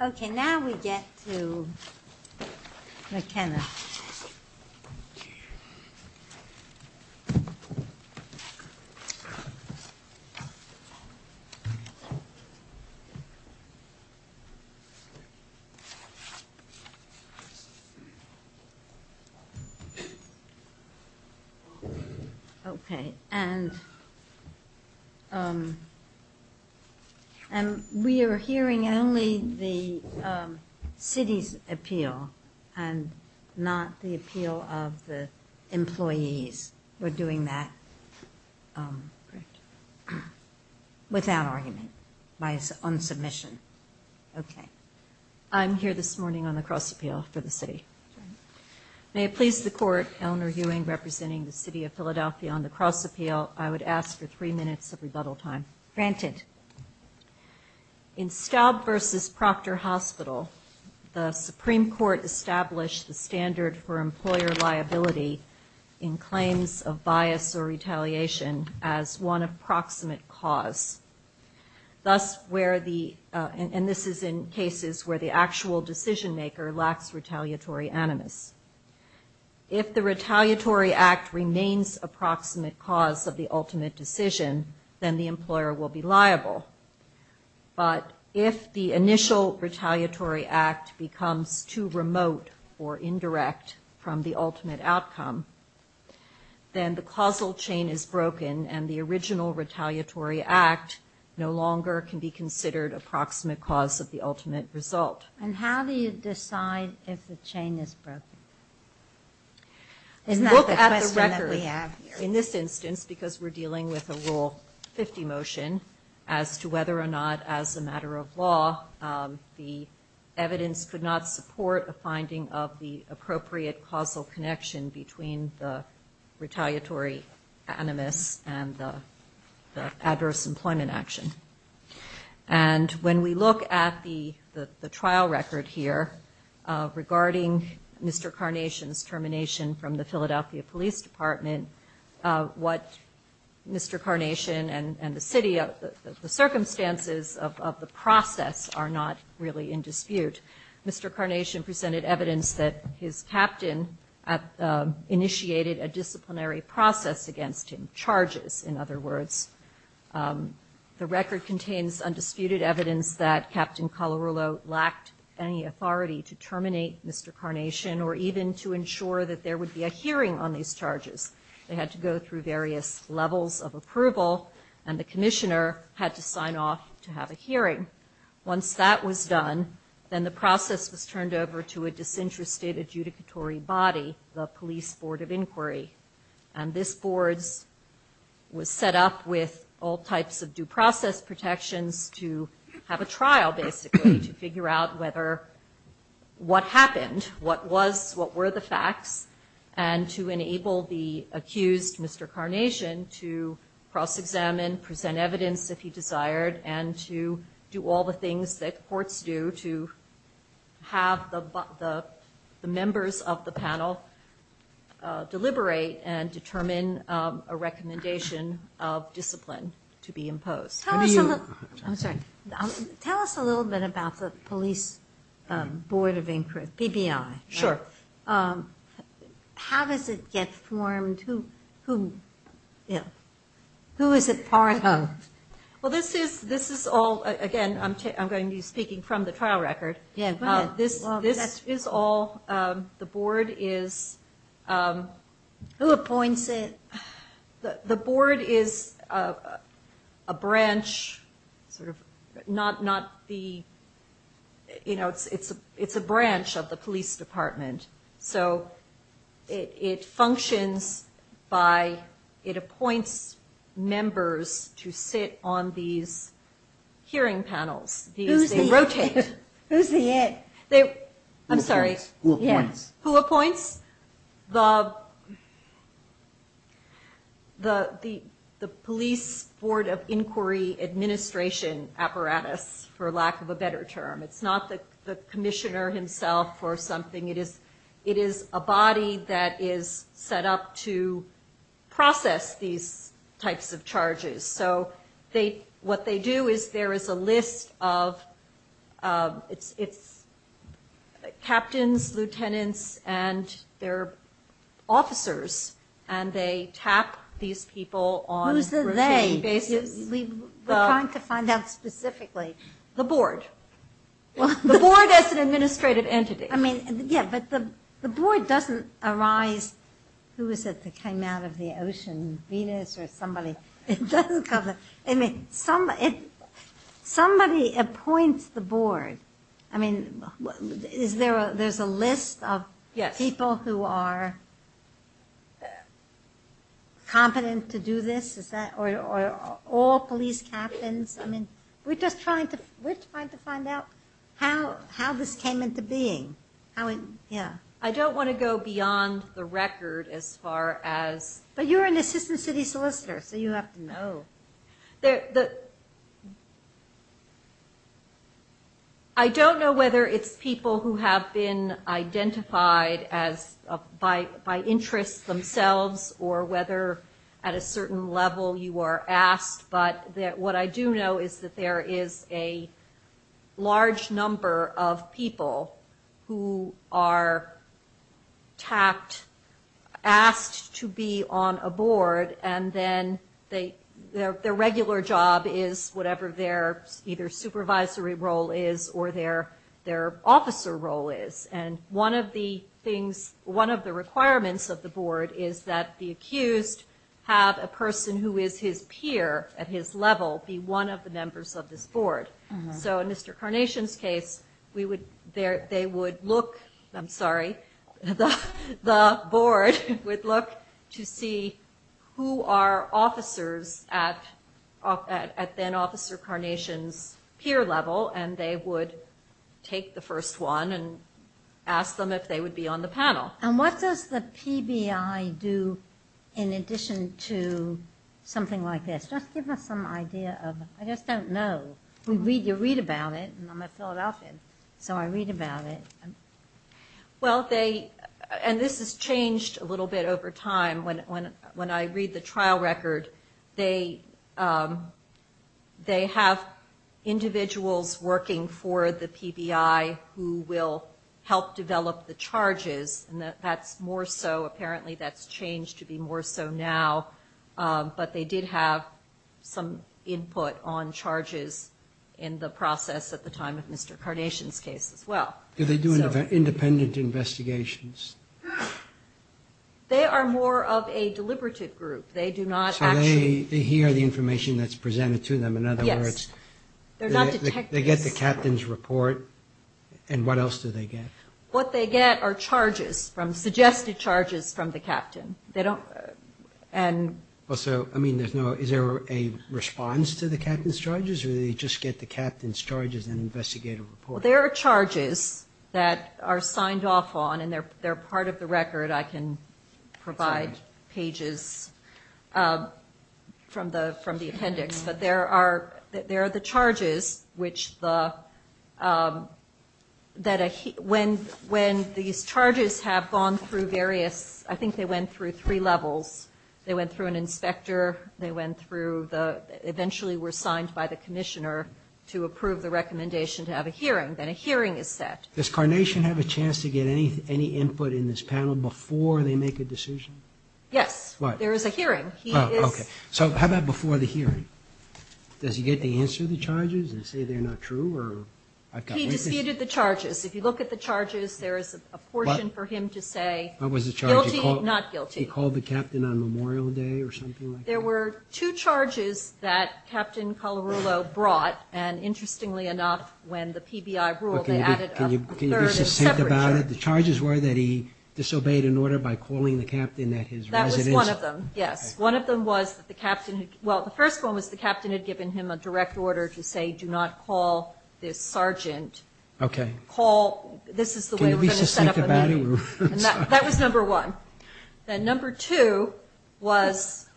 Okay, now we get to McKenna. Okay, and we are hearing only the city's appeal and not the appeal of the employees. We're doing that without argument, on submission. Okay, I'm here this morning on the cross appeal for the city. May it please the court, Eleanor Ewing representing the City of Philadelphia on the cross appeal, I would ask for three minutes of rebuttal time. Granted. In Staub v. Proctor Hospital, the Supreme Court established the standard for employer liability in claims of bias or retaliation as one approximate cause. Thus, where the, and this is in cases where the actual decision maker lacks retaliatory animus. If the retaliatory act remains approximate cause of the ultimate decision, then the employer will be liable. But if the initial retaliatory act becomes too remote or indirect from the ultimate outcome, then the causal chain is broken and the original retaliatory act no longer can be considered approximate cause of the ultimate result. And how do you decide if the chain is broken? Look at the record. Isn't that the question that we have here? In this instance, because we're dealing with a Rule 50 motion as to whether or not as a matter of law, the evidence could not support a finding of the appropriate causal connection between the retaliatory animus and the adverse employment action. And when we look at the trial record here, regarding Mr. Carnation's termination from the Philadelphia Police Department, what Mr. Carnation and the city, the circumstances of the process are not really in dispute. Mr. Carnation presented evidence that his captain initiated a disciplinary process against him. Charges, in other words. The record contains undisputed evidence that Captain Calarulo lacked any authority to terminate Mr. Carnation or even to ensure that there would be a hearing on these charges. They had to go through various levels of approval, and the commissioner had to sign off to have a hearing. Once that was done, then the process was turned over to a disinterested adjudicatory body, the Police Board of Inquiry. And this board was set up with all types of due process protections to have a trial, basically, to figure out whether what happened, what was, what were the facts, and to enable the accused, Mr. Carnation, to cross-examine, present evidence if he desired, and to do all the things that courts do to have the members of the panel deliberate and determine a recommendation of discipline to be imposed. I'm sorry. Tell us a little bit about the Police Board of Inquiry, BBI. Sure. How does it get formed? Who is it part of? Well, this is all, again, I'm going to be speaking from the trial record. This is all, the board is... Who appoints it? The board is a branch, sort of, not the, you know, it's a branch of the police department. So it functions by, it appoints members to sit on these hearing panels. Who's the... They rotate. Who's the... I'm sorry. Who appoints? The police board of inquiry administration apparatus, for lack of a better term. It's not the commissioner himself or something. It is a body that is set up to process these types of charges. So what they do is there is a list of captains, lieutenants, and their officers, and they tap these people on a rotating basis. Who's the they? We're trying to find out specifically. The board. The board as an administrative entity. I mean, yeah, but the board doesn't arise, who is it that came out of the ocean, Venus or somebody? It doesn't come out. I mean, somebody appoints the board. I mean, is there a, there's a list of people who are competent to do this? Is that, or all police captains? I mean, we're just trying to, we're trying to find out how this came into being. How it, yeah. I don't want to go beyond the record as far as... But you're an assistant city solicitor, so you have to know. I don't know whether it's people who have been identified as by interest themselves or whether at a certain level you are asked, but what I do know is that there is a large number of people who are tapped, asked to be on a board, and then their regular job is whatever their either supervisory role is or their officer role is. And one of the things, one of the requirements of the board is that the accused have a person who is his peer at his level be one of the members of this board. So in Mr. Carnation's case, they would look, I'm sorry, the board would look to see who are officers at then-officer Carnation's peer level, and they would take the first one and ask them if they would be on the panel. And what does the PBI do in addition to something like this? Just give us some idea of, I just don't know. You read about it, and I'm going to fill it out then. So I read about it. Well, they, and this has changed a little bit over time. When I read the trial record, they have individuals working for the PBI who will help develop the charges, and that's more so, apparently that's changed to be more so now, but they did have some input on charges in the process at the time of Mr. Carnation's case as well. Do they do independent investigations? They are more of a deliberative group. They do not actually. So they hear the information that's presented to them. Yes. In other words, they get the captain's report, and what else do they get? What they get are charges from, suggested charges from the captain. They don't, and. Well, so, I mean, is there a response to the captain's charges, or do they just get the captain's charges and investigate a report? Well, there are charges that are signed off on, and they're part of the record. I can provide pages from the appendix. But there are the charges which the, that when these charges have gone through various, I think they went through three levels. They went through an inspector. They went through the, eventually were signed by the commissioner to approve the recommendation to have a hearing, then a hearing is set. Does Carnation have a chance to get any input in this panel before they make a decision? Yes. What? There is a hearing. Oh, okay. So how about before the hearing? Does he get to answer the charges and say they're not true, or? He disputed the charges. If you look at the charges, there is a portion for him to say. What was the charge? Guilty, not guilty. He called the captain on Memorial Day or something like that? There were two charges that Captain Colarulo brought, and interestingly enough, when the PBI ruled, they added a third separate charge. Can you be succinct about it? The charges were that he disobeyed an order by calling the captain at his residence? That was one of them, yes. One of them was that the captain, well, the first one was the captain had given him a direct order to say do not call this sergeant. Call, this is the way we're going to set up a meeting. Can you be succinct about it? That was number one. Then number two was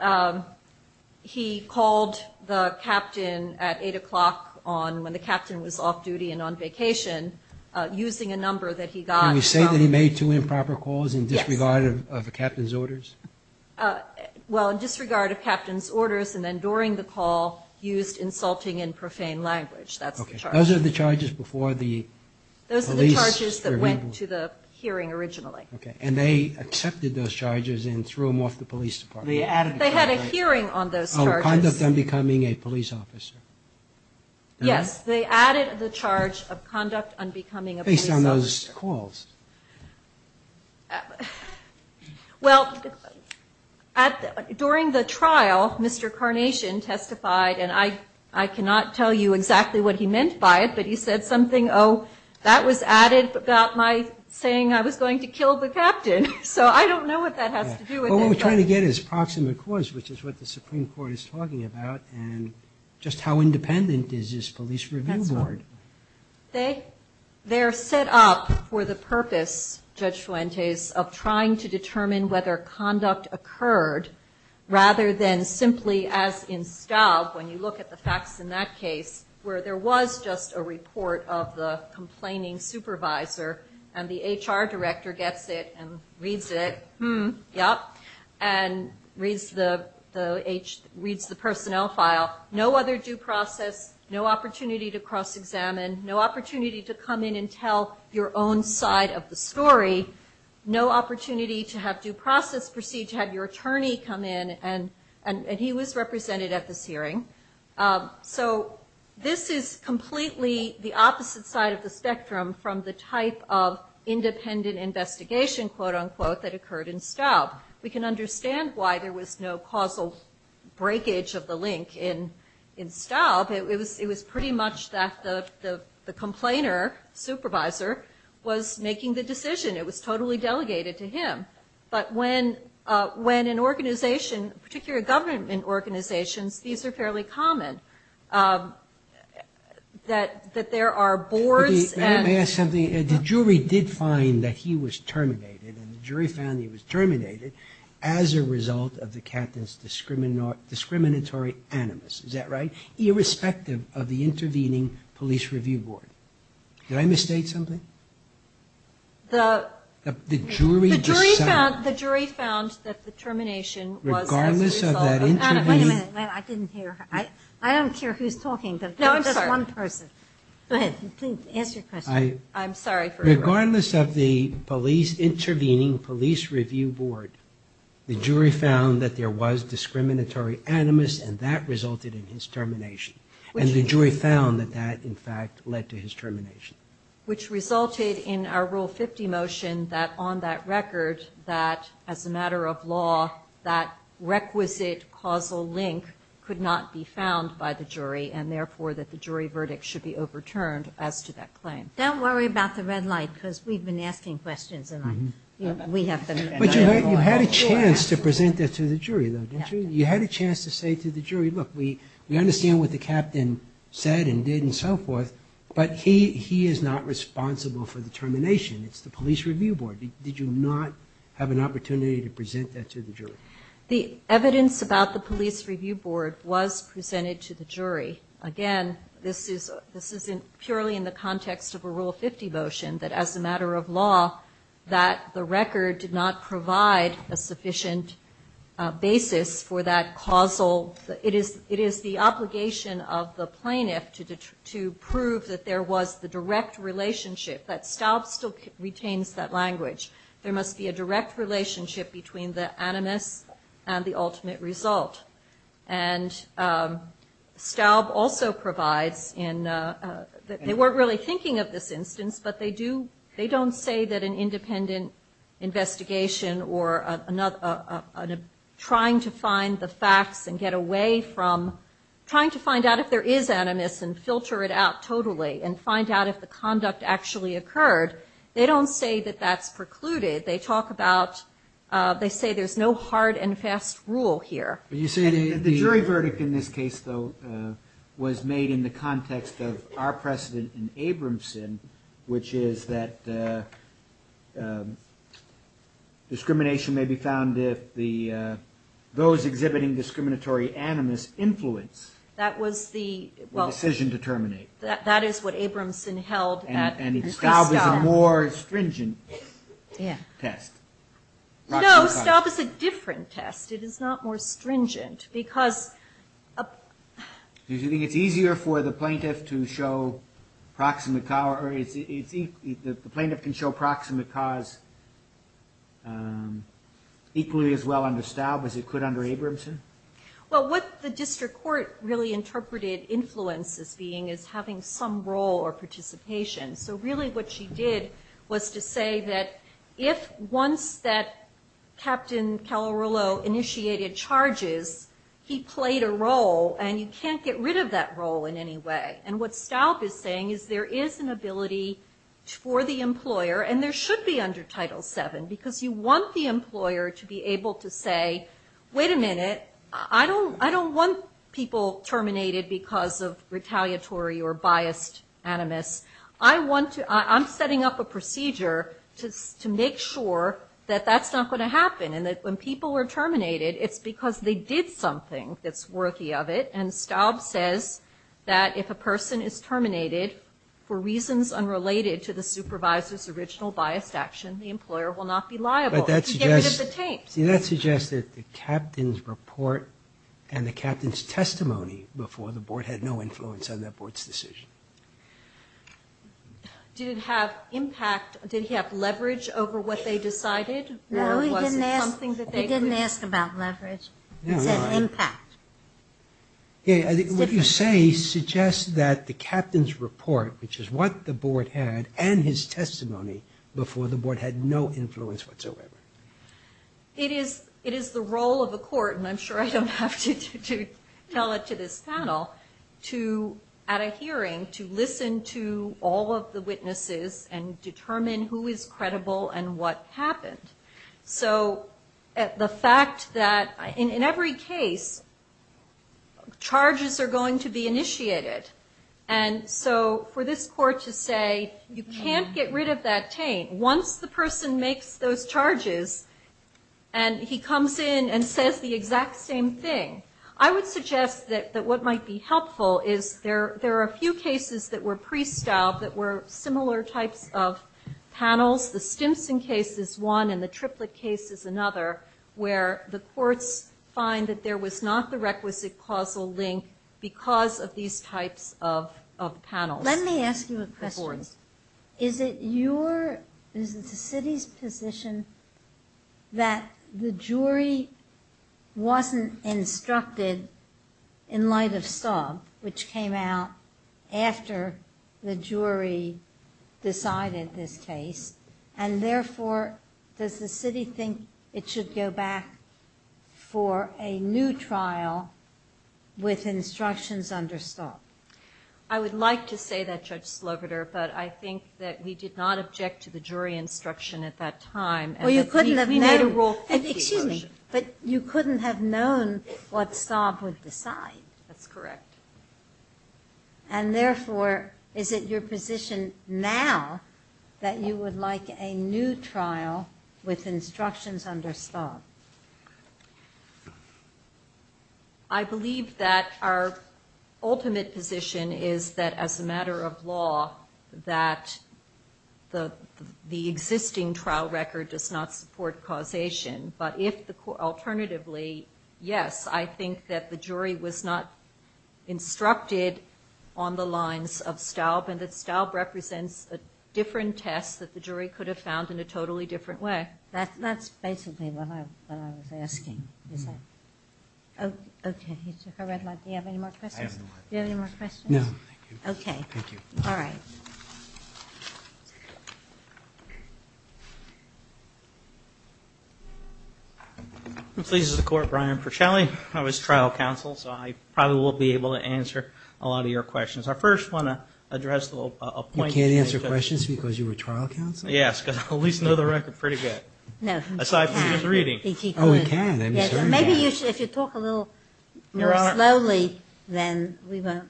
he called the captain at 8 o'clock on, when the captain was off duty and on vacation, using a number that he got. Can you say that he made two improper calls in disregard of the captain's orders? Well, in disregard of captain's orders, and then during the call used insulting and profane language. That's the charge. Those are the charges before the police were able to. Those are the charges that went to the hearing originally. Okay. And they accepted those charges and threw them off the police department? They added. They had a hearing on those charges. Oh, conduct unbecoming a police officer. Yes. They added the charge of conduct unbecoming a police officer. Based on those calls. Well, during the trial, Mr. Carnation testified, and I cannot tell you exactly what he meant by it, but he said something, oh, that was added about my saying I was going to kill the captain. So I don't know what that has to do with it. Well, what we're trying to get is proximate cause, which is what the Supreme Court is talking about, and just how independent is this police review board? That's right. They're set up for the purpose, Judge Fuentes, of trying to determine whether conduct occurred, rather than simply as in Staub, when you look at the facts in that case, where there was just a report of the complaining supervisor, and the HR director gets it and reads it, and reads the personnel file, no other due process, no opportunity to cross-examine, no opportunity to come in and tell your own side of the story, no opportunity to have due process proceed to have your attorney come in, and he was represented at this hearing. So this is completely the opposite side of the spectrum from the type of independent investigation, quote-unquote, that occurred in Staub. We can understand why there was no causal breakage of the link in Staub. It was pretty much that the complainer, supervisor, was making the decision. It was totally delegated to him. But when an organization, particularly government organizations, these are fairly common, that there are boards. Let me ask something. The jury did find that he was terminated, and the jury found he was terminated as a result of the captain's discriminatory animus, is that right, irrespective of the intervening police review board. Did I misstate something? The jury found that the termination was as a result of animus. Wait a minute. I didn't hear. I don't care who's talking. No, I'm sorry. Just one person. Go ahead. Please, answer your question. I'm sorry. Regardless of the intervening police review board, the jury found that there was discriminatory animus, and that resulted in his termination. And the jury found that that, in fact, led to his termination. Which resulted in our Rule 50 motion that on that record, that as a matter of law, that requisite causal link could not be found by the jury, and therefore that the jury verdict should be overturned as to that claim. Don't worry about the red light, because we've been asking questions. But you had a chance to present that to the jury, though, didn't you? You had a chance to say to the jury, look, we understand what the captain said and did and so forth, but he is not responsible for the termination. It's the police review board. Did you not have an opportunity to present that to the jury? The evidence about the police review board was presented to the jury. Again, this is purely in the context of a Rule 50 motion, that as a matter of law, that the record did not provide a sufficient basis for that causal. It is the obligation of the plaintiff to prove that there was the direct relationship, that Staub still retains that language. There must be a direct relationship between the animus and the ultimate result. And Staub also provides, they weren't really thinking of this instance, but they don't say that an independent investigation or trying to find the facts and get away from trying to find out if there is animus and filter it out totally and find out if the conduct actually occurred. They don't say that that's precluded. They talk about, they say there's no hard and fast rule here. The jury verdict in this case, though, was made in the context of our precedent in Abramson, which is that discrimination may be found if those exhibiting discriminatory animus influence the decision to terminate. That is what Abramson held. And Staub is a more stringent test. No, Staub is a different test. It is not more stringent. Do you think it's easier for the plaintiff to show proximate cause, equally as well under Staub as it could under Abramson? Well, what the district court really interpreted influence as being is having some role or participation. So really what she did was to say that if once that Captain Calarulo initiated charges, he played a role, and you can't get rid of that role in any way. And what Staub is saying is there is an ability for the employer, and there should be under Title VII, because you want the employer to be able to say, wait a minute, I don't want people terminated because of retaliatory or biased animus. I'm setting up a procedure to make sure that that's not going to happen, and that when people are terminated, it's because they did something that's worthy of it. And Staub says that if a person is terminated for reasons unrelated to the But that suggests that the captain's report and the captain's testimony before the board had no influence on that board's decision. Did it have impact? Did he have leverage over what they decided? No, he didn't ask about leverage. He said impact. What you say suggests that the captain's report, which is what the board had, and his testimony, before the board had no influence whatsoever. It is the role of a court, and I'm sure I don't have to tell it to this panel, to, at a hearing, to listen to all of the witnesses and determine who is credible and what happened. So the fact that, in every case, charges are going to be initiated. And so for this court to say, you can't get rid of that taint. Once the person makes those charges and he comes in and says the exact same thing, I would suggest that what might be helpful is there are a few cases that were pre-Staub that were similar types of panels. The Stimson case is one, and the Triplett case is another, where the courts find that there was not the requisite causal link because of these types of panels. Let me ask you a question. Is it the city's position that the jury wasn't instructed in light of Staub, which came out after the jury decided this case, and therefore does the city think it should go back for a new trial with instructions under Staub? I would like to say that, Judge Slobodur, but I think that we did not object to the jury instruction at that time. We made a Rule 50 motion. Excuse me, but you couldn't have known what Staub would decide. That's correct. And therefore, is it your position now that you would like a new trial with instructions under Staub? I believe that our ultimate position is that, as a matter of law, that the existing trial record does not support causation. But if, alternatively, yes, I think that the jury was not instructed on the lines of Staub and that Staub represents a different test that the jury could have found in a totally different way. That's basically what I was asking. Okay. He took a red light. Do you have any more questions? I have no more questions. Do you have any more questions? No. Okay. Thank you. All right. I'm pleased to support Brian Porcelli. I was trial counsel, so I probably won't be able to answer a lot of your questions. I first want to address a point. You can't answer questions because you were trial counsel? Yes, because I at least know the record pretty good. No. Aside from the reading. Oh, you can. I'm sorry. Maybe if you talk a little more slowly, then we won't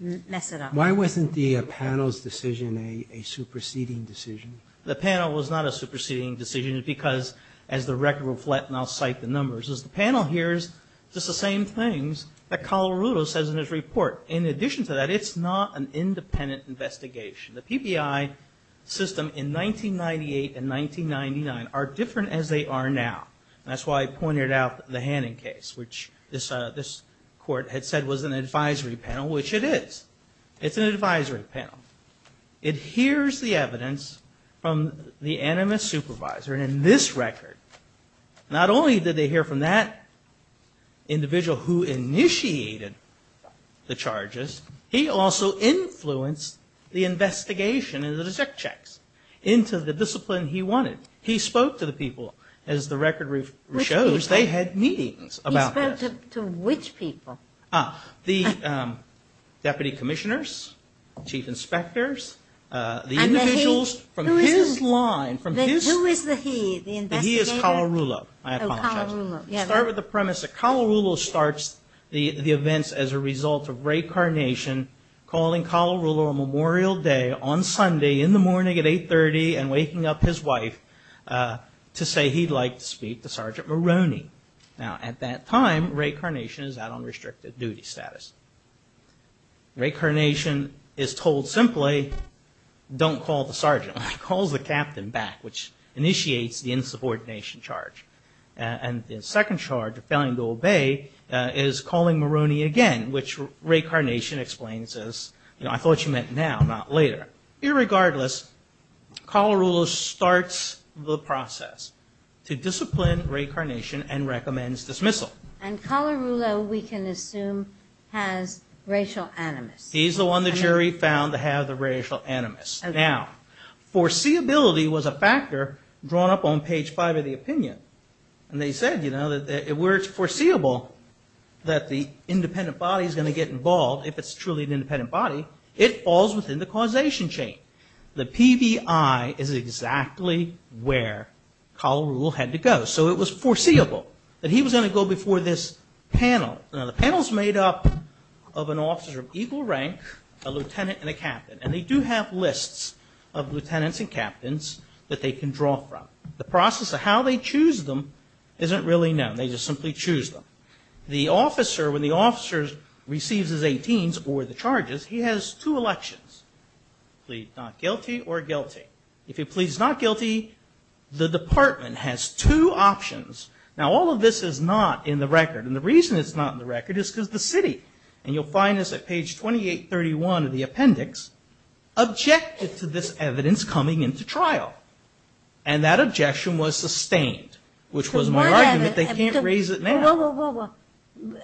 mess it up. Why wasn't the panel's decision a superseding decision? The panel was not a superseding decision because, as the record will reflect, and I'll cite the numbers, is the panel hears just the same things that Calarudo says in his report. In addition to that, it's not an independent investigation. The PBI system in 1998 and 1999 are different as they are now, and that's why I pointed out the Hannon case, which this court had said was an advisory panel, which it is. It's an advisory panel. It hears the evidence from the animus supervisor, and in this record, not only did they hear from that individual who initiated the charges, he also influenced the investigation and the check checks into the discipline he wanted. He spoke to the people. As the record shows, they had meetings about this. He spoke to which people? The deputy commissioners, chief inspectors, the individuals from his line. Who is the he, the investigator? The he is Calarudo. I apologize. Oh, Calarudo. Start with the premise that Calarudo starts the events as a result of Ray Carnation calling Calarudo on Memorial Day on Sunday in the morning at 830 and waking up his wife to say he'd like to speak to Sergeant Maroney. Now, at that time, Ray Carnation is out on restricted duty status. Ray Carnation is told simply, don't call the sergeant. He calls the captain back, which initiates the insubordination charge. And the second charge, failing to obey, is calling Maroney again, which Ray Carnation explains as, you know, I thought you meant now, not later. Irregardless, Calarudo starts the process to discipline Ray Carnation and recommends dismissal. And Calarudo, we can assume, has racial animus. He's the one the jury found to have the racial animus. Now, foreseeability was a factor drawn up on page five of the opinion. And they said, you know, where it's foreseeable that the independent body is going to get involved, if it's truly an independent body, it falls within the causation chain. The PVI is exactly where Calarudo had to go. So it was foreseeable that he was going to go before this panel. Now, the panel is made up of an officer of equal rank, a lieutenant, and a captain. And they do have lists of lieutenants and captains that they can draw from. The process of how they choose them isn't really known. They just simply choose them. The officer, when the officer receives his 18s or the charges, he has two elections, plead not guilty or guilty. If he pleads not guilty, the department has two options. Now, all of this is not in the record. And the reason it's not in the record is because the city, and you'll find this at page 2831 of the appendix, objected to this evidence coming into trial. And that objection was sustained. Which was my argument, they can't raise it now.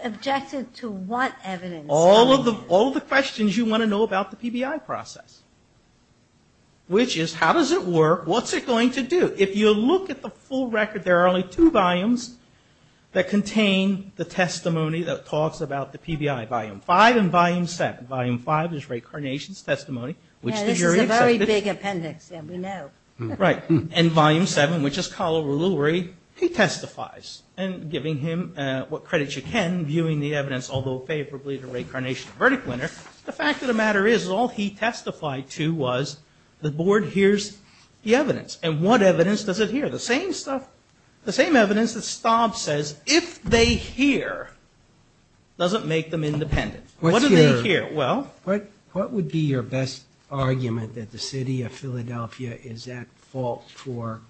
Objected to what evidence? All of the questions you want to know about the PBI process. Which is, how does it work? What's it going to do? If you look at the full record, there are only two volumes that contain the testimony that talks about the PBI, Volume 5 and Volume 7. Volume 5 is Ray Carnation's testimony, which the jury accepted. Yeah, this is a very big appendix. Yeah, we know. Right. And Volume 7, which is Kala Ruluri, he testifies. And giving him what credit you can, viewing the evidence, although favorably to Ray Carnation, the verdict winner. The fact of the matter is, all he testified to was the board hears the evidence. And what evidence does it hear? The same stuff, the same evidence that Staub says, if they hear, doesn't make them independent. What do they hear? What would be your best argument that the city of Philadelphia is at fault for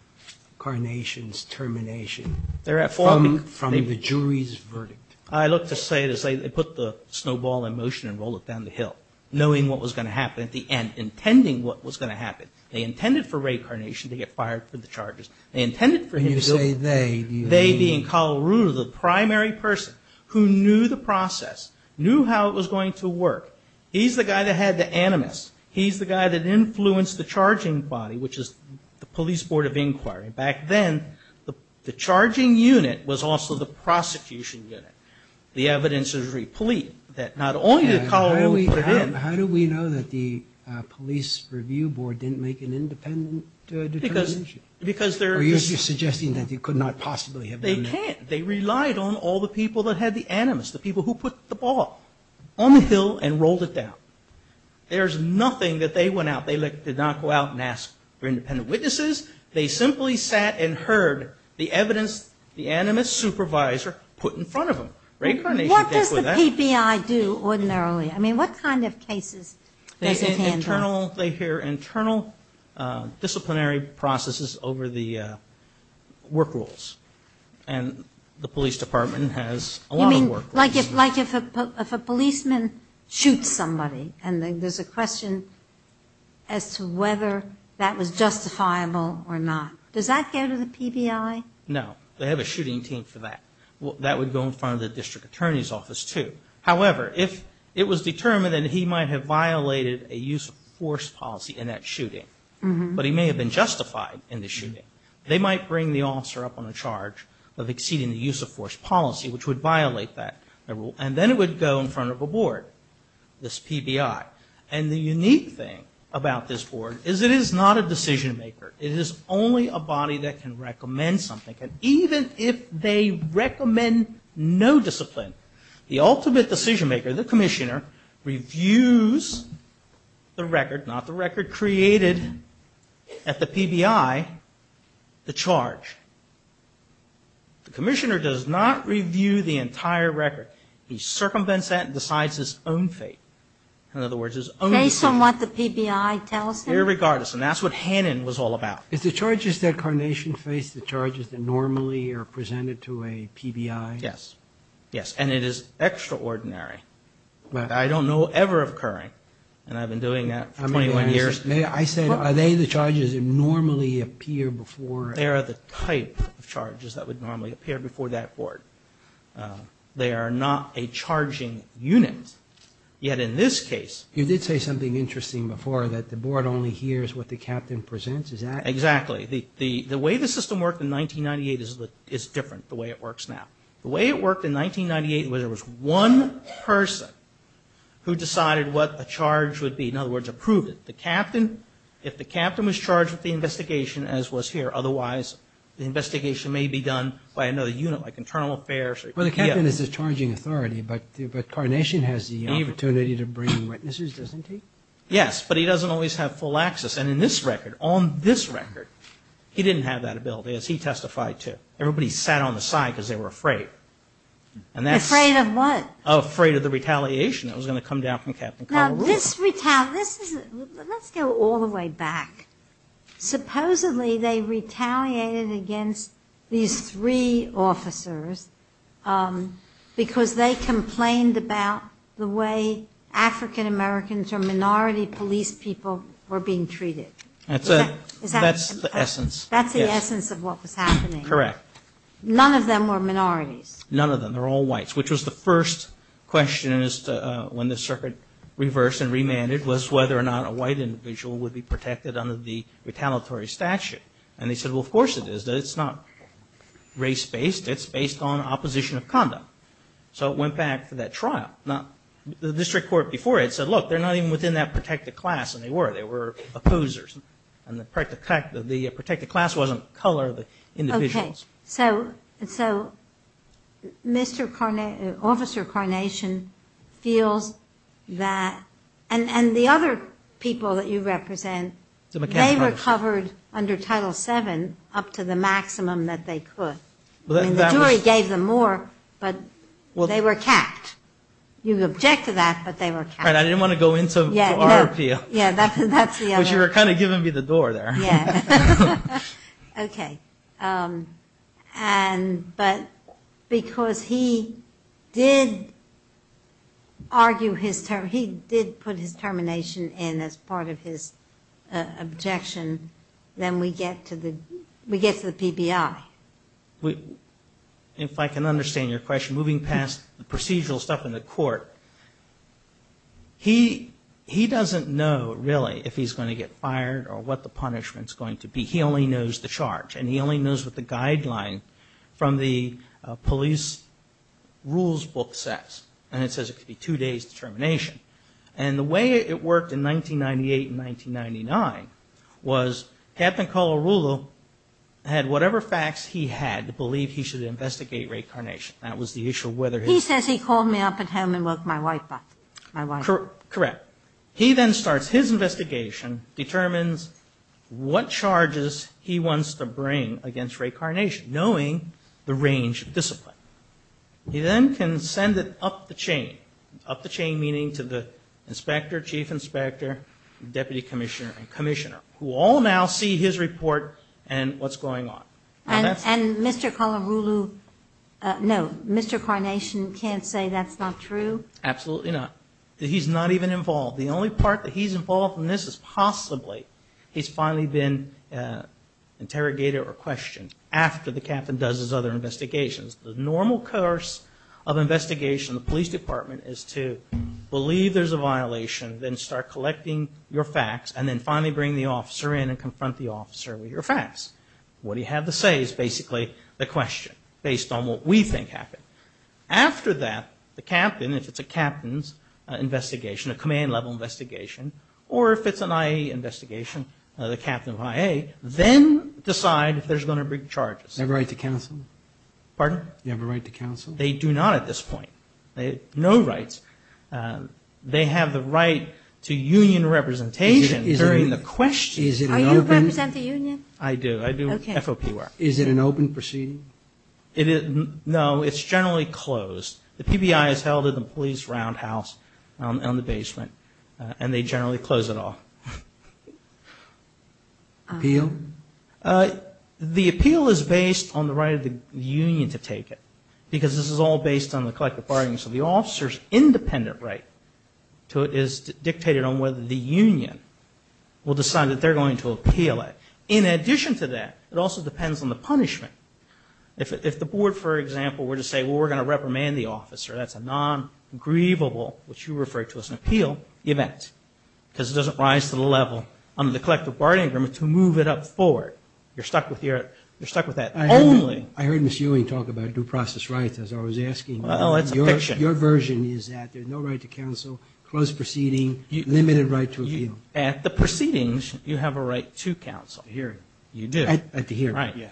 Carnation's termination from the jury's verdict? I look to say they put the snowball in motion and rolled it down the hill, knowing what was going to happen at the end, intending what was going to happen. They intended for Ray Carnation to get fired from the charges. They intended for him to go. You say they. They being Kala Ruluri, the primary person who knew the process, knew how it was going to work. He's the guy that had the animus. He's the guy that influenced the charging body, which is the police board of inquiry. Back then, the charging unit was also the prosecution unit. The evidence is replete that not only did Kala Ruluri put in. How do we know that the police review board didn't make an independent determination? Are you suggesting that they could not possibly have done that? They can't. They relied on all the people that had the animus, the people who put the ball on the hill and rolled it down. There's nothing that they went out. They did not go out and ask for independent witnesses. They simply sat and heard the evidence the animus supervisor put in front of them. What does the PBI do ordinarily? I mean, what kind of cases does it handle? They hear internal disciplinary processes over the work rules, and the police department has a lot of work rules. You mean like if a policeman shoots somebody and there's a question as to whether that was justifiable or not. Does that go to the PBI? No. They have a shooting team for that. That would go in front of the district attorney's office, too. However, if it was determined that he might have violated a use of force policy in that shooting, but he may have been justified in the shooting, they might bring the officer up on a charge of exceeding the use of force policy, which would violate that rule. And then it would go in front of a board, this PBI. And the unique thing about this board is it is not a decision maker. It is only a body that can recommend something. And even if they recommend no discipline, the ultimate decision maker, the commissioner, reviews the record, not the record created at the PBI, the charge. The commissioner does not review the entire record. He circumvents that and decides his own fate. In other words, his own fate. Based on what the PBI tells him? Irregardless, and that's what Hannon was all about. Is the charges that Carnation faced the charges that normally are presented to a PBI? Yes. Yes, and it is extraordinary. I don't know ever occurring, and I've been doing that for 21 years. I said, are they the charges that normally appear before? They are the type of charges that would normally appear before that board. They are not a charging unit. Yet in this case. You did say something interesting before, that the board only hears what the captain presents. Exactly. The way the system worked in 1998 is different the way it works now. The way it worked in 1998 was there was one person who decided what a charge would be. In other words, approved it. The captain, if the captain was charged with the investigation as was here, otherwise the investigation may be done by another unit like internal affairs. Well, the captain is the charging authority, but Carnation has the opportunity to bring witnesses, doesn't he? Yes, but he doesn't always have full access. And in this record, on this record, he didn't have that ability, as he testified to. Everybody sat on the side because they were afraid. Afraid of what? Afraid of the retaliation that was going to come down from Captain Colorado. Now, let's go all the way back. Supposedly they retaliated against these three officers because they complained about the way African Americans or minority police people were being treated. That's the essence. That's the essence of what was happening. Correct. None of them were minorities. None of them. They were all whites, which was the first question when the circuit reversed and remanded, was whether or not a white individual would be protected under the retaliatory statute. And they said, well, of course it is. It's not race-based. It's based on opposition of condom. So it went back to that trial. Now, the district court before it said, look, they're not even within that protected class. And they were. They were opposers. And the protected class wasn't color, but individuals. Okay. So Officer Carnation feels that, and the other people that you represent, they were covered under Title VII up to the maximum that they could. I mean, the jury gave them more, but they were capped. You object to that, but they were capped. Right. I didn't want to go into RPO. Yeah, that's the other. But you were kind of giving me the door there. Yeah. Okay. But because he did put his termination in as part of his objection, then we get to the PBI. If I can understand your question, moving past the procedural stuff in the court, he doesn't know, really, if he's going to get fired or what the punishment's going to be. He only knows the charge. And he only knows what the guideline from the police rules book says. And it says it could be two days' termination. And the way it worked in 1998 and 1999 was Captain Colarulo had whatever facts he had to believe he should investigate Ray Carnation. That was the issue of whether his ---- He says he called me up at home and woke my wife up, my wife. Correct. He then starts his investigation, determines what charges he wants to bring against Ray Carnation, knowing the range of discipline. He then can send it up the chain, up the chain meaning to the inspector, chief inspector, deputy commissioner and commissioner, who all now see his report and what's going on. And Mr. Colarulo, no, Mr. Carnation can't say that's not true? Absolutely not. He's not even involved. The only part that he's involved in this is possibly he's finally been interrogated or questioned after the captain does his other investigations. The normal course of investigation in the police department is to believe there's a violation, then start collecting your facts, and then finally bring the officer in and confront the officer with your facts. What he had to say is basically the question based on what we think happened. After that, the captain, if it's a captain's investigation, a command level investigation, or if it's an IAEA investigation, the captain of IAEA, then decide if there's going to be charges. Do they have a right to counsel? Pardon? Do they have a right to counsel? They do not at this point. They have no rights. They have the right to union representation during the questioning. Are you representing the union? I do. I do. Okay. Is it an open proceeding? No, it's generally closed. The PBI is held at the police roundhouse in the basement, and they generally close it off. Appeal? The appeal is based on the right of the union to take it, because this is all based on the collective bargaining. So the officer's independent right to it is dictated on whether the union will decide that they're going to appeal it. In addition to that, it also depends on the punishment. If the board, for example, were to say, well, we're going to reprimand the officer, that's a non-grievable, which you refer to as an appeal, event, because it doesn't rise to the level under the collective bargaining agreement to move it up forward. You're stuck with that only. I heard Ms. Ewing talk about due process rights, as I was asking. Oh, that's a fiction. Your version is that there's no right to counsel, closed proceeding, limited right to appeal. At the proceedings, you have a right to counsel. At the hearing. You do. At the hearing, yeah.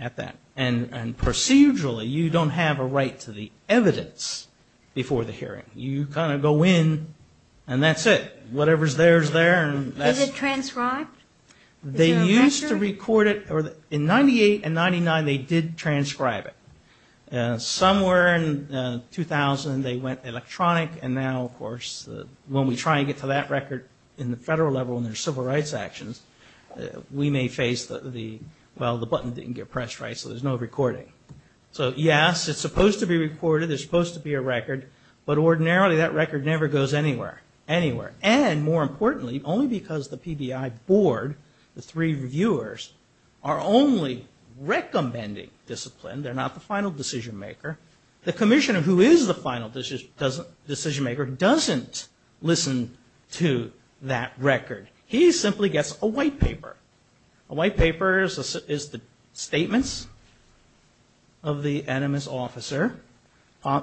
At that. And procedurally, you don't have a right to the evidence before the hearing. You kind of go in, and that's it. Whatever's there is there. Is it transcribed? They used to record it. In 98 and 99, they did transcribe it. Somewhere in 2000, they went electronic, and now, of course, when we try to get to that record in the federal level when there's civil rights actions, we may face the, well, the button didn't get pressed right, so there's no recording. So, yes, it's supposed to be recorded, there's supposed to be a record, but ordinarily that record never goes anywhere. And more importantly, only because the PBI board, the three reviewers, are only recommending discipline. They're not the final decision maker. The commissioner, who is the final decision maker, doesn't listen to that record. He simply gets a white paper. A white paper is the statements of the animus officer,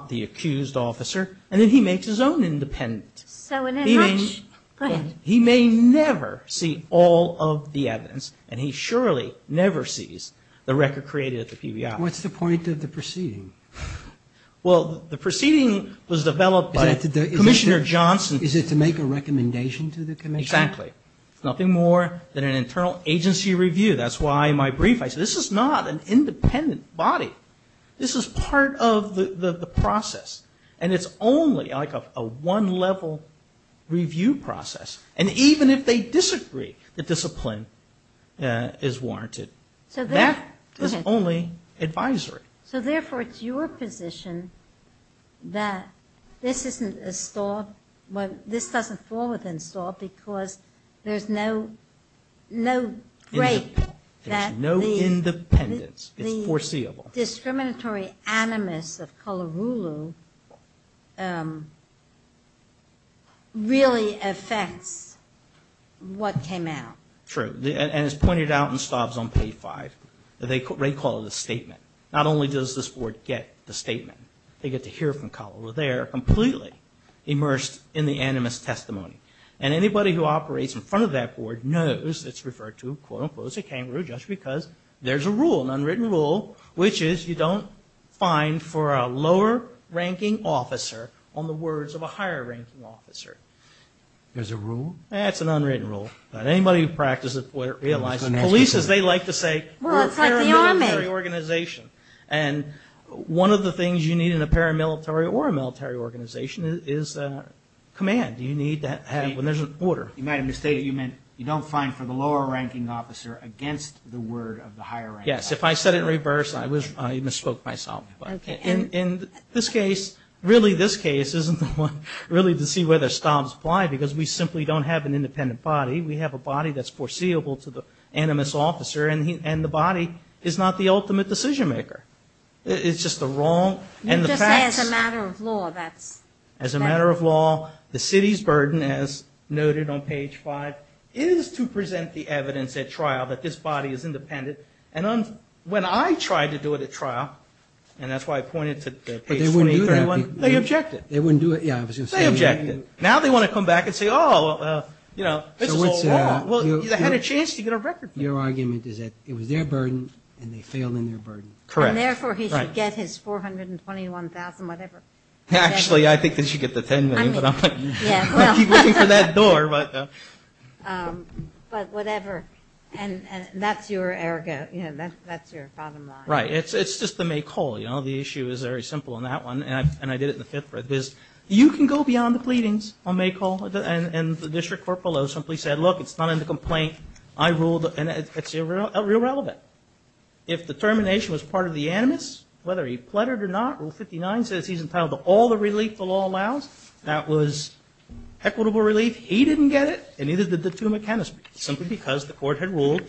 the accused officer, and then he makes his own independent. So in a nutshell, go ahead. He may never see all of the evidence, and he surely never sees the record created at the PBI. What's the point of the proceeding? Well, the proceeding was developed by Commissioner Johnson. Is it to make a recommendation to the commissioner? Exactly. It's nothing more than an internal agency review. That's why in my brief I said this is not an independent body. This is part of the process, and it's only like a one-level review process. And even if they disagree, the discipline is warranted. That is only advisory. So therefore it's your position that this doesn't fall within store because there's no break. There's no independence. It's foreseeable. The discriminatory animus of Kalarulu really affects what came out. True. And it's pointed out in Staub's On Page 5. They call it a statement. Not only does this board get the statement, they get to hear from Kalarulu. They are completely immersed in the animus testimony. And anybody who operates in front of that board knows it's referred to, quote, unquote, as a kangaroo just because there's a rule, an unwritten rule, which is you don't find for a lower-ranking officer on the words of a higher-ranking officer. There's a rule? That's an unwritten rule. Anybody who practices it realizes it. Polices, they like to say we're a paramilitary organization. And one of the things you need in a paramilitary or a military organization is command. You need that when there's an order. You might have misstated. You meant you don't find for the lower-ranking officer against the word of the higher-ranking officer. Yes, if I said it in reverse, I misspoke myself. In this case, really this case isn't the one really to see whether Staub's blind because we simply don't have an independent body. We have a body that's foreseeable to the animus officer, and the body is not the ultimate decision-maker. It's just the wrong and the facts. You just say it's a matter of law. As a matter of law, the city's burden, as noted on Page 5, is to present the evidence at trial that this body is independent. And when I tried to do it at trial, and that's why I pointed to Page 23, they objected. They wouldn't do it? They objected. Now they want to come back and say, oh, this is all wrong. They had a chance to get a record. Your argument is that it was their burden and they failed in their burden. Correct. And therefore he should get his $421,000, whatever. Actually, I think they should get the $10 million. I keep looking for that door. But whatever. And that's your bottom line. Right. It's just the May call. The issue is very simple on that one, and I did it in the fifth. You can go beyond the pleadings on May call, and the district court below simply said, look, it's not in the complaint. I ruled, and it's irrelevant. If the termination was part of the animus, whether he pleaded or not, Article 59 says he's entitled to all the relief the law allows. That was equitable relief. He didn't get it, and neither did the two mechanics, simply because the court had ruled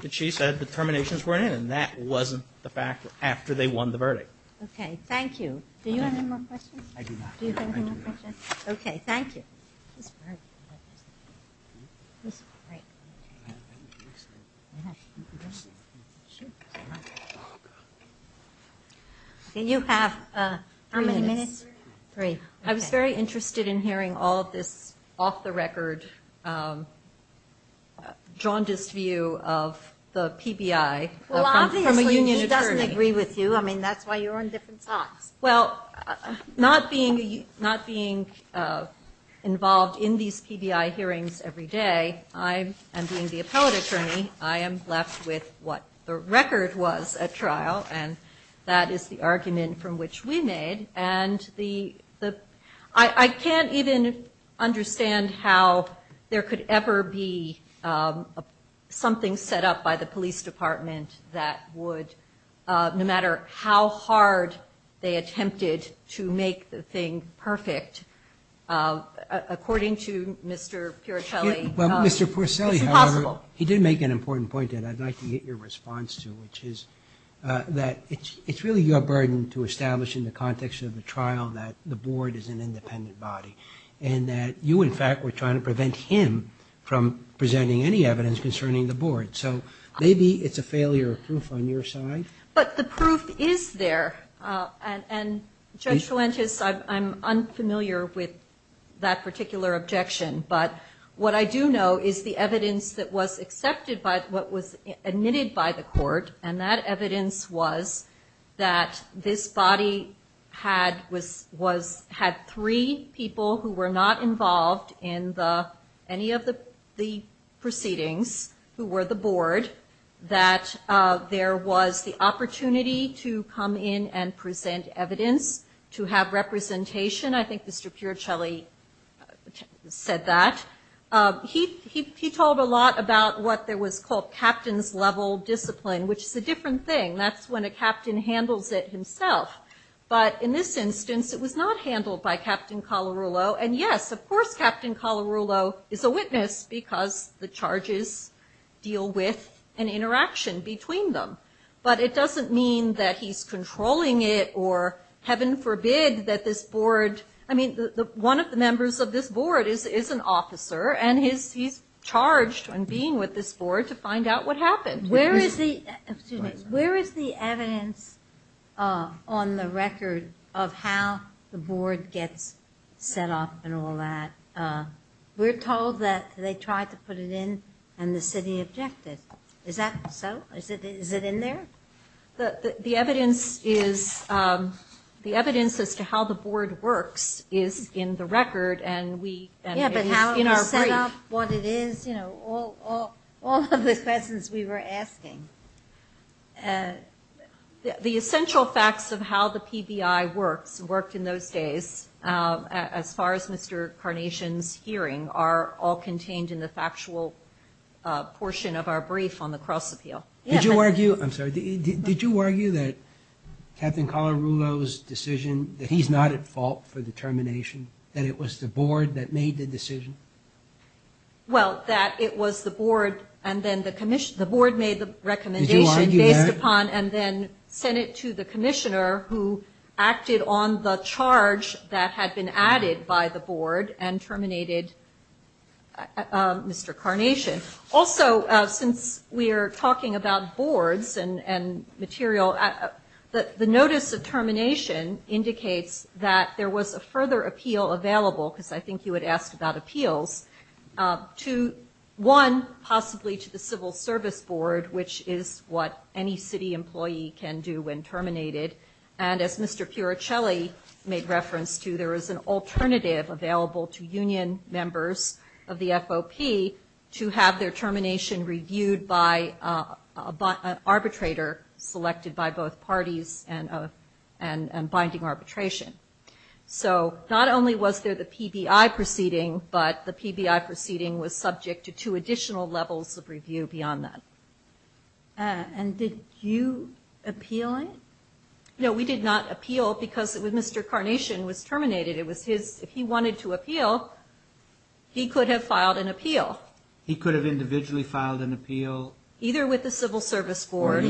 that she said the terminations weren't in, and that wasn't the fact after they won the verdict. Okay. Thank you. Do you have any more questions? I do not. Do you have any more questions? Okay. Thank you. Okay. You have how many minutes? Three. I was very interested in hearing all of this off-the-record jaundiced view of the PBI from a union attorney. Well, obviously he doesn't agree with you. I mean, that's why you're on different sides. Well, not being involved in these PBI hearings every day, I am being the appellate attorney. I am left with what the record was at trial, and that is the argument from which we made. And I can't even understand how there could ever be something set up by the attempted to make the thing perfect according to Mr. Puricelli. Well, Mr. Puricelli, however, he did make an important point that I'd like to get your response to, which is that it's really your burden to establish in the context of the trial that the board is an independent body, and that you, in fact, were trying to prevent him from presenting any evidence concerning the board. So maybe it's a failure of proof on your side. But the proof is there. And Judge Fuentes, I'm unfamiliar with that particular objection. But what I do know is the evidence that was accepted by what was admitted by the court, and that evidence was that this body had three people who were not involved in any of the proceedings who were the board, that there was the opportunity to come in and present evidence to have representation. I think Mr. Puricelli said that. He told a lot about what was called captain's level discipline, which is a different thing. That's when a captain handles it himself. But in this instance, it was not handled by Captain Colarulo. And, yes, of course Captain Colarulo is a witness because the charges deal with an interaction between them. But it doesn't mean that he's controlling it, or heaven forbid that this board, I mean, one of the members of this board is an officer, and he's charged in being with this board to find out what happened. Where is the evidence on the record of how the board gets set up and all that? We're told that they tried to put it in and the city objected. Is that so? Is it in there? The evidence as to how the board works is in the record and is in our brief. Yeah, but how it was set up, what it is, you know, all of the questions we were asking. The essential facts of how the PBI works, worked in those days, as far as Mr. Carnation's hearing, are all contained in the factual portion of our brief on the cross-appeal. Did you argue, I'm sorry, did you argue that Captain Colarulo's decision that he's not at fault for the termination, that it was the board that made the decision? Well, that it was the board and then the commission, the board made the recommendation based upon and then sent it to the commission that had been added by the board and terminated Mr. Carnation. Also, since we are talking about boards and material, the notice of termination indicates that there was a further appeal available, because I think you had asked about appeals, to one, possibly to the civil service board, which is what any city employee can do when terminated. And as Mr. Puricelli made reference to, there is an alternative available to union members of the FOP to have their termination reviewed by an arbitrator selected by both parties and binding arbitration. So not only was there the PBI proceeding, but the PBI proceeding was subject to two additional levels of review beyond that. And did you appeal it? No, we did not appeal because Mr. Carnation was terminated. It was his, if he wanted to appeal, he could have filed an appeal. He could have individually filed an appeal. Either with the civil service board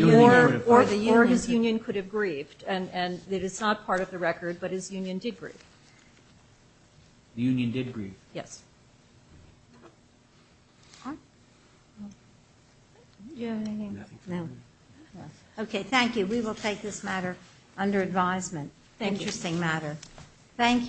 or his union could have grieved. And it is not part of the record, but his union did grieve. The union did grieve? Yes. No. Okay. Thank you. We will take this matter under advisement. Interesting matter. Thank you.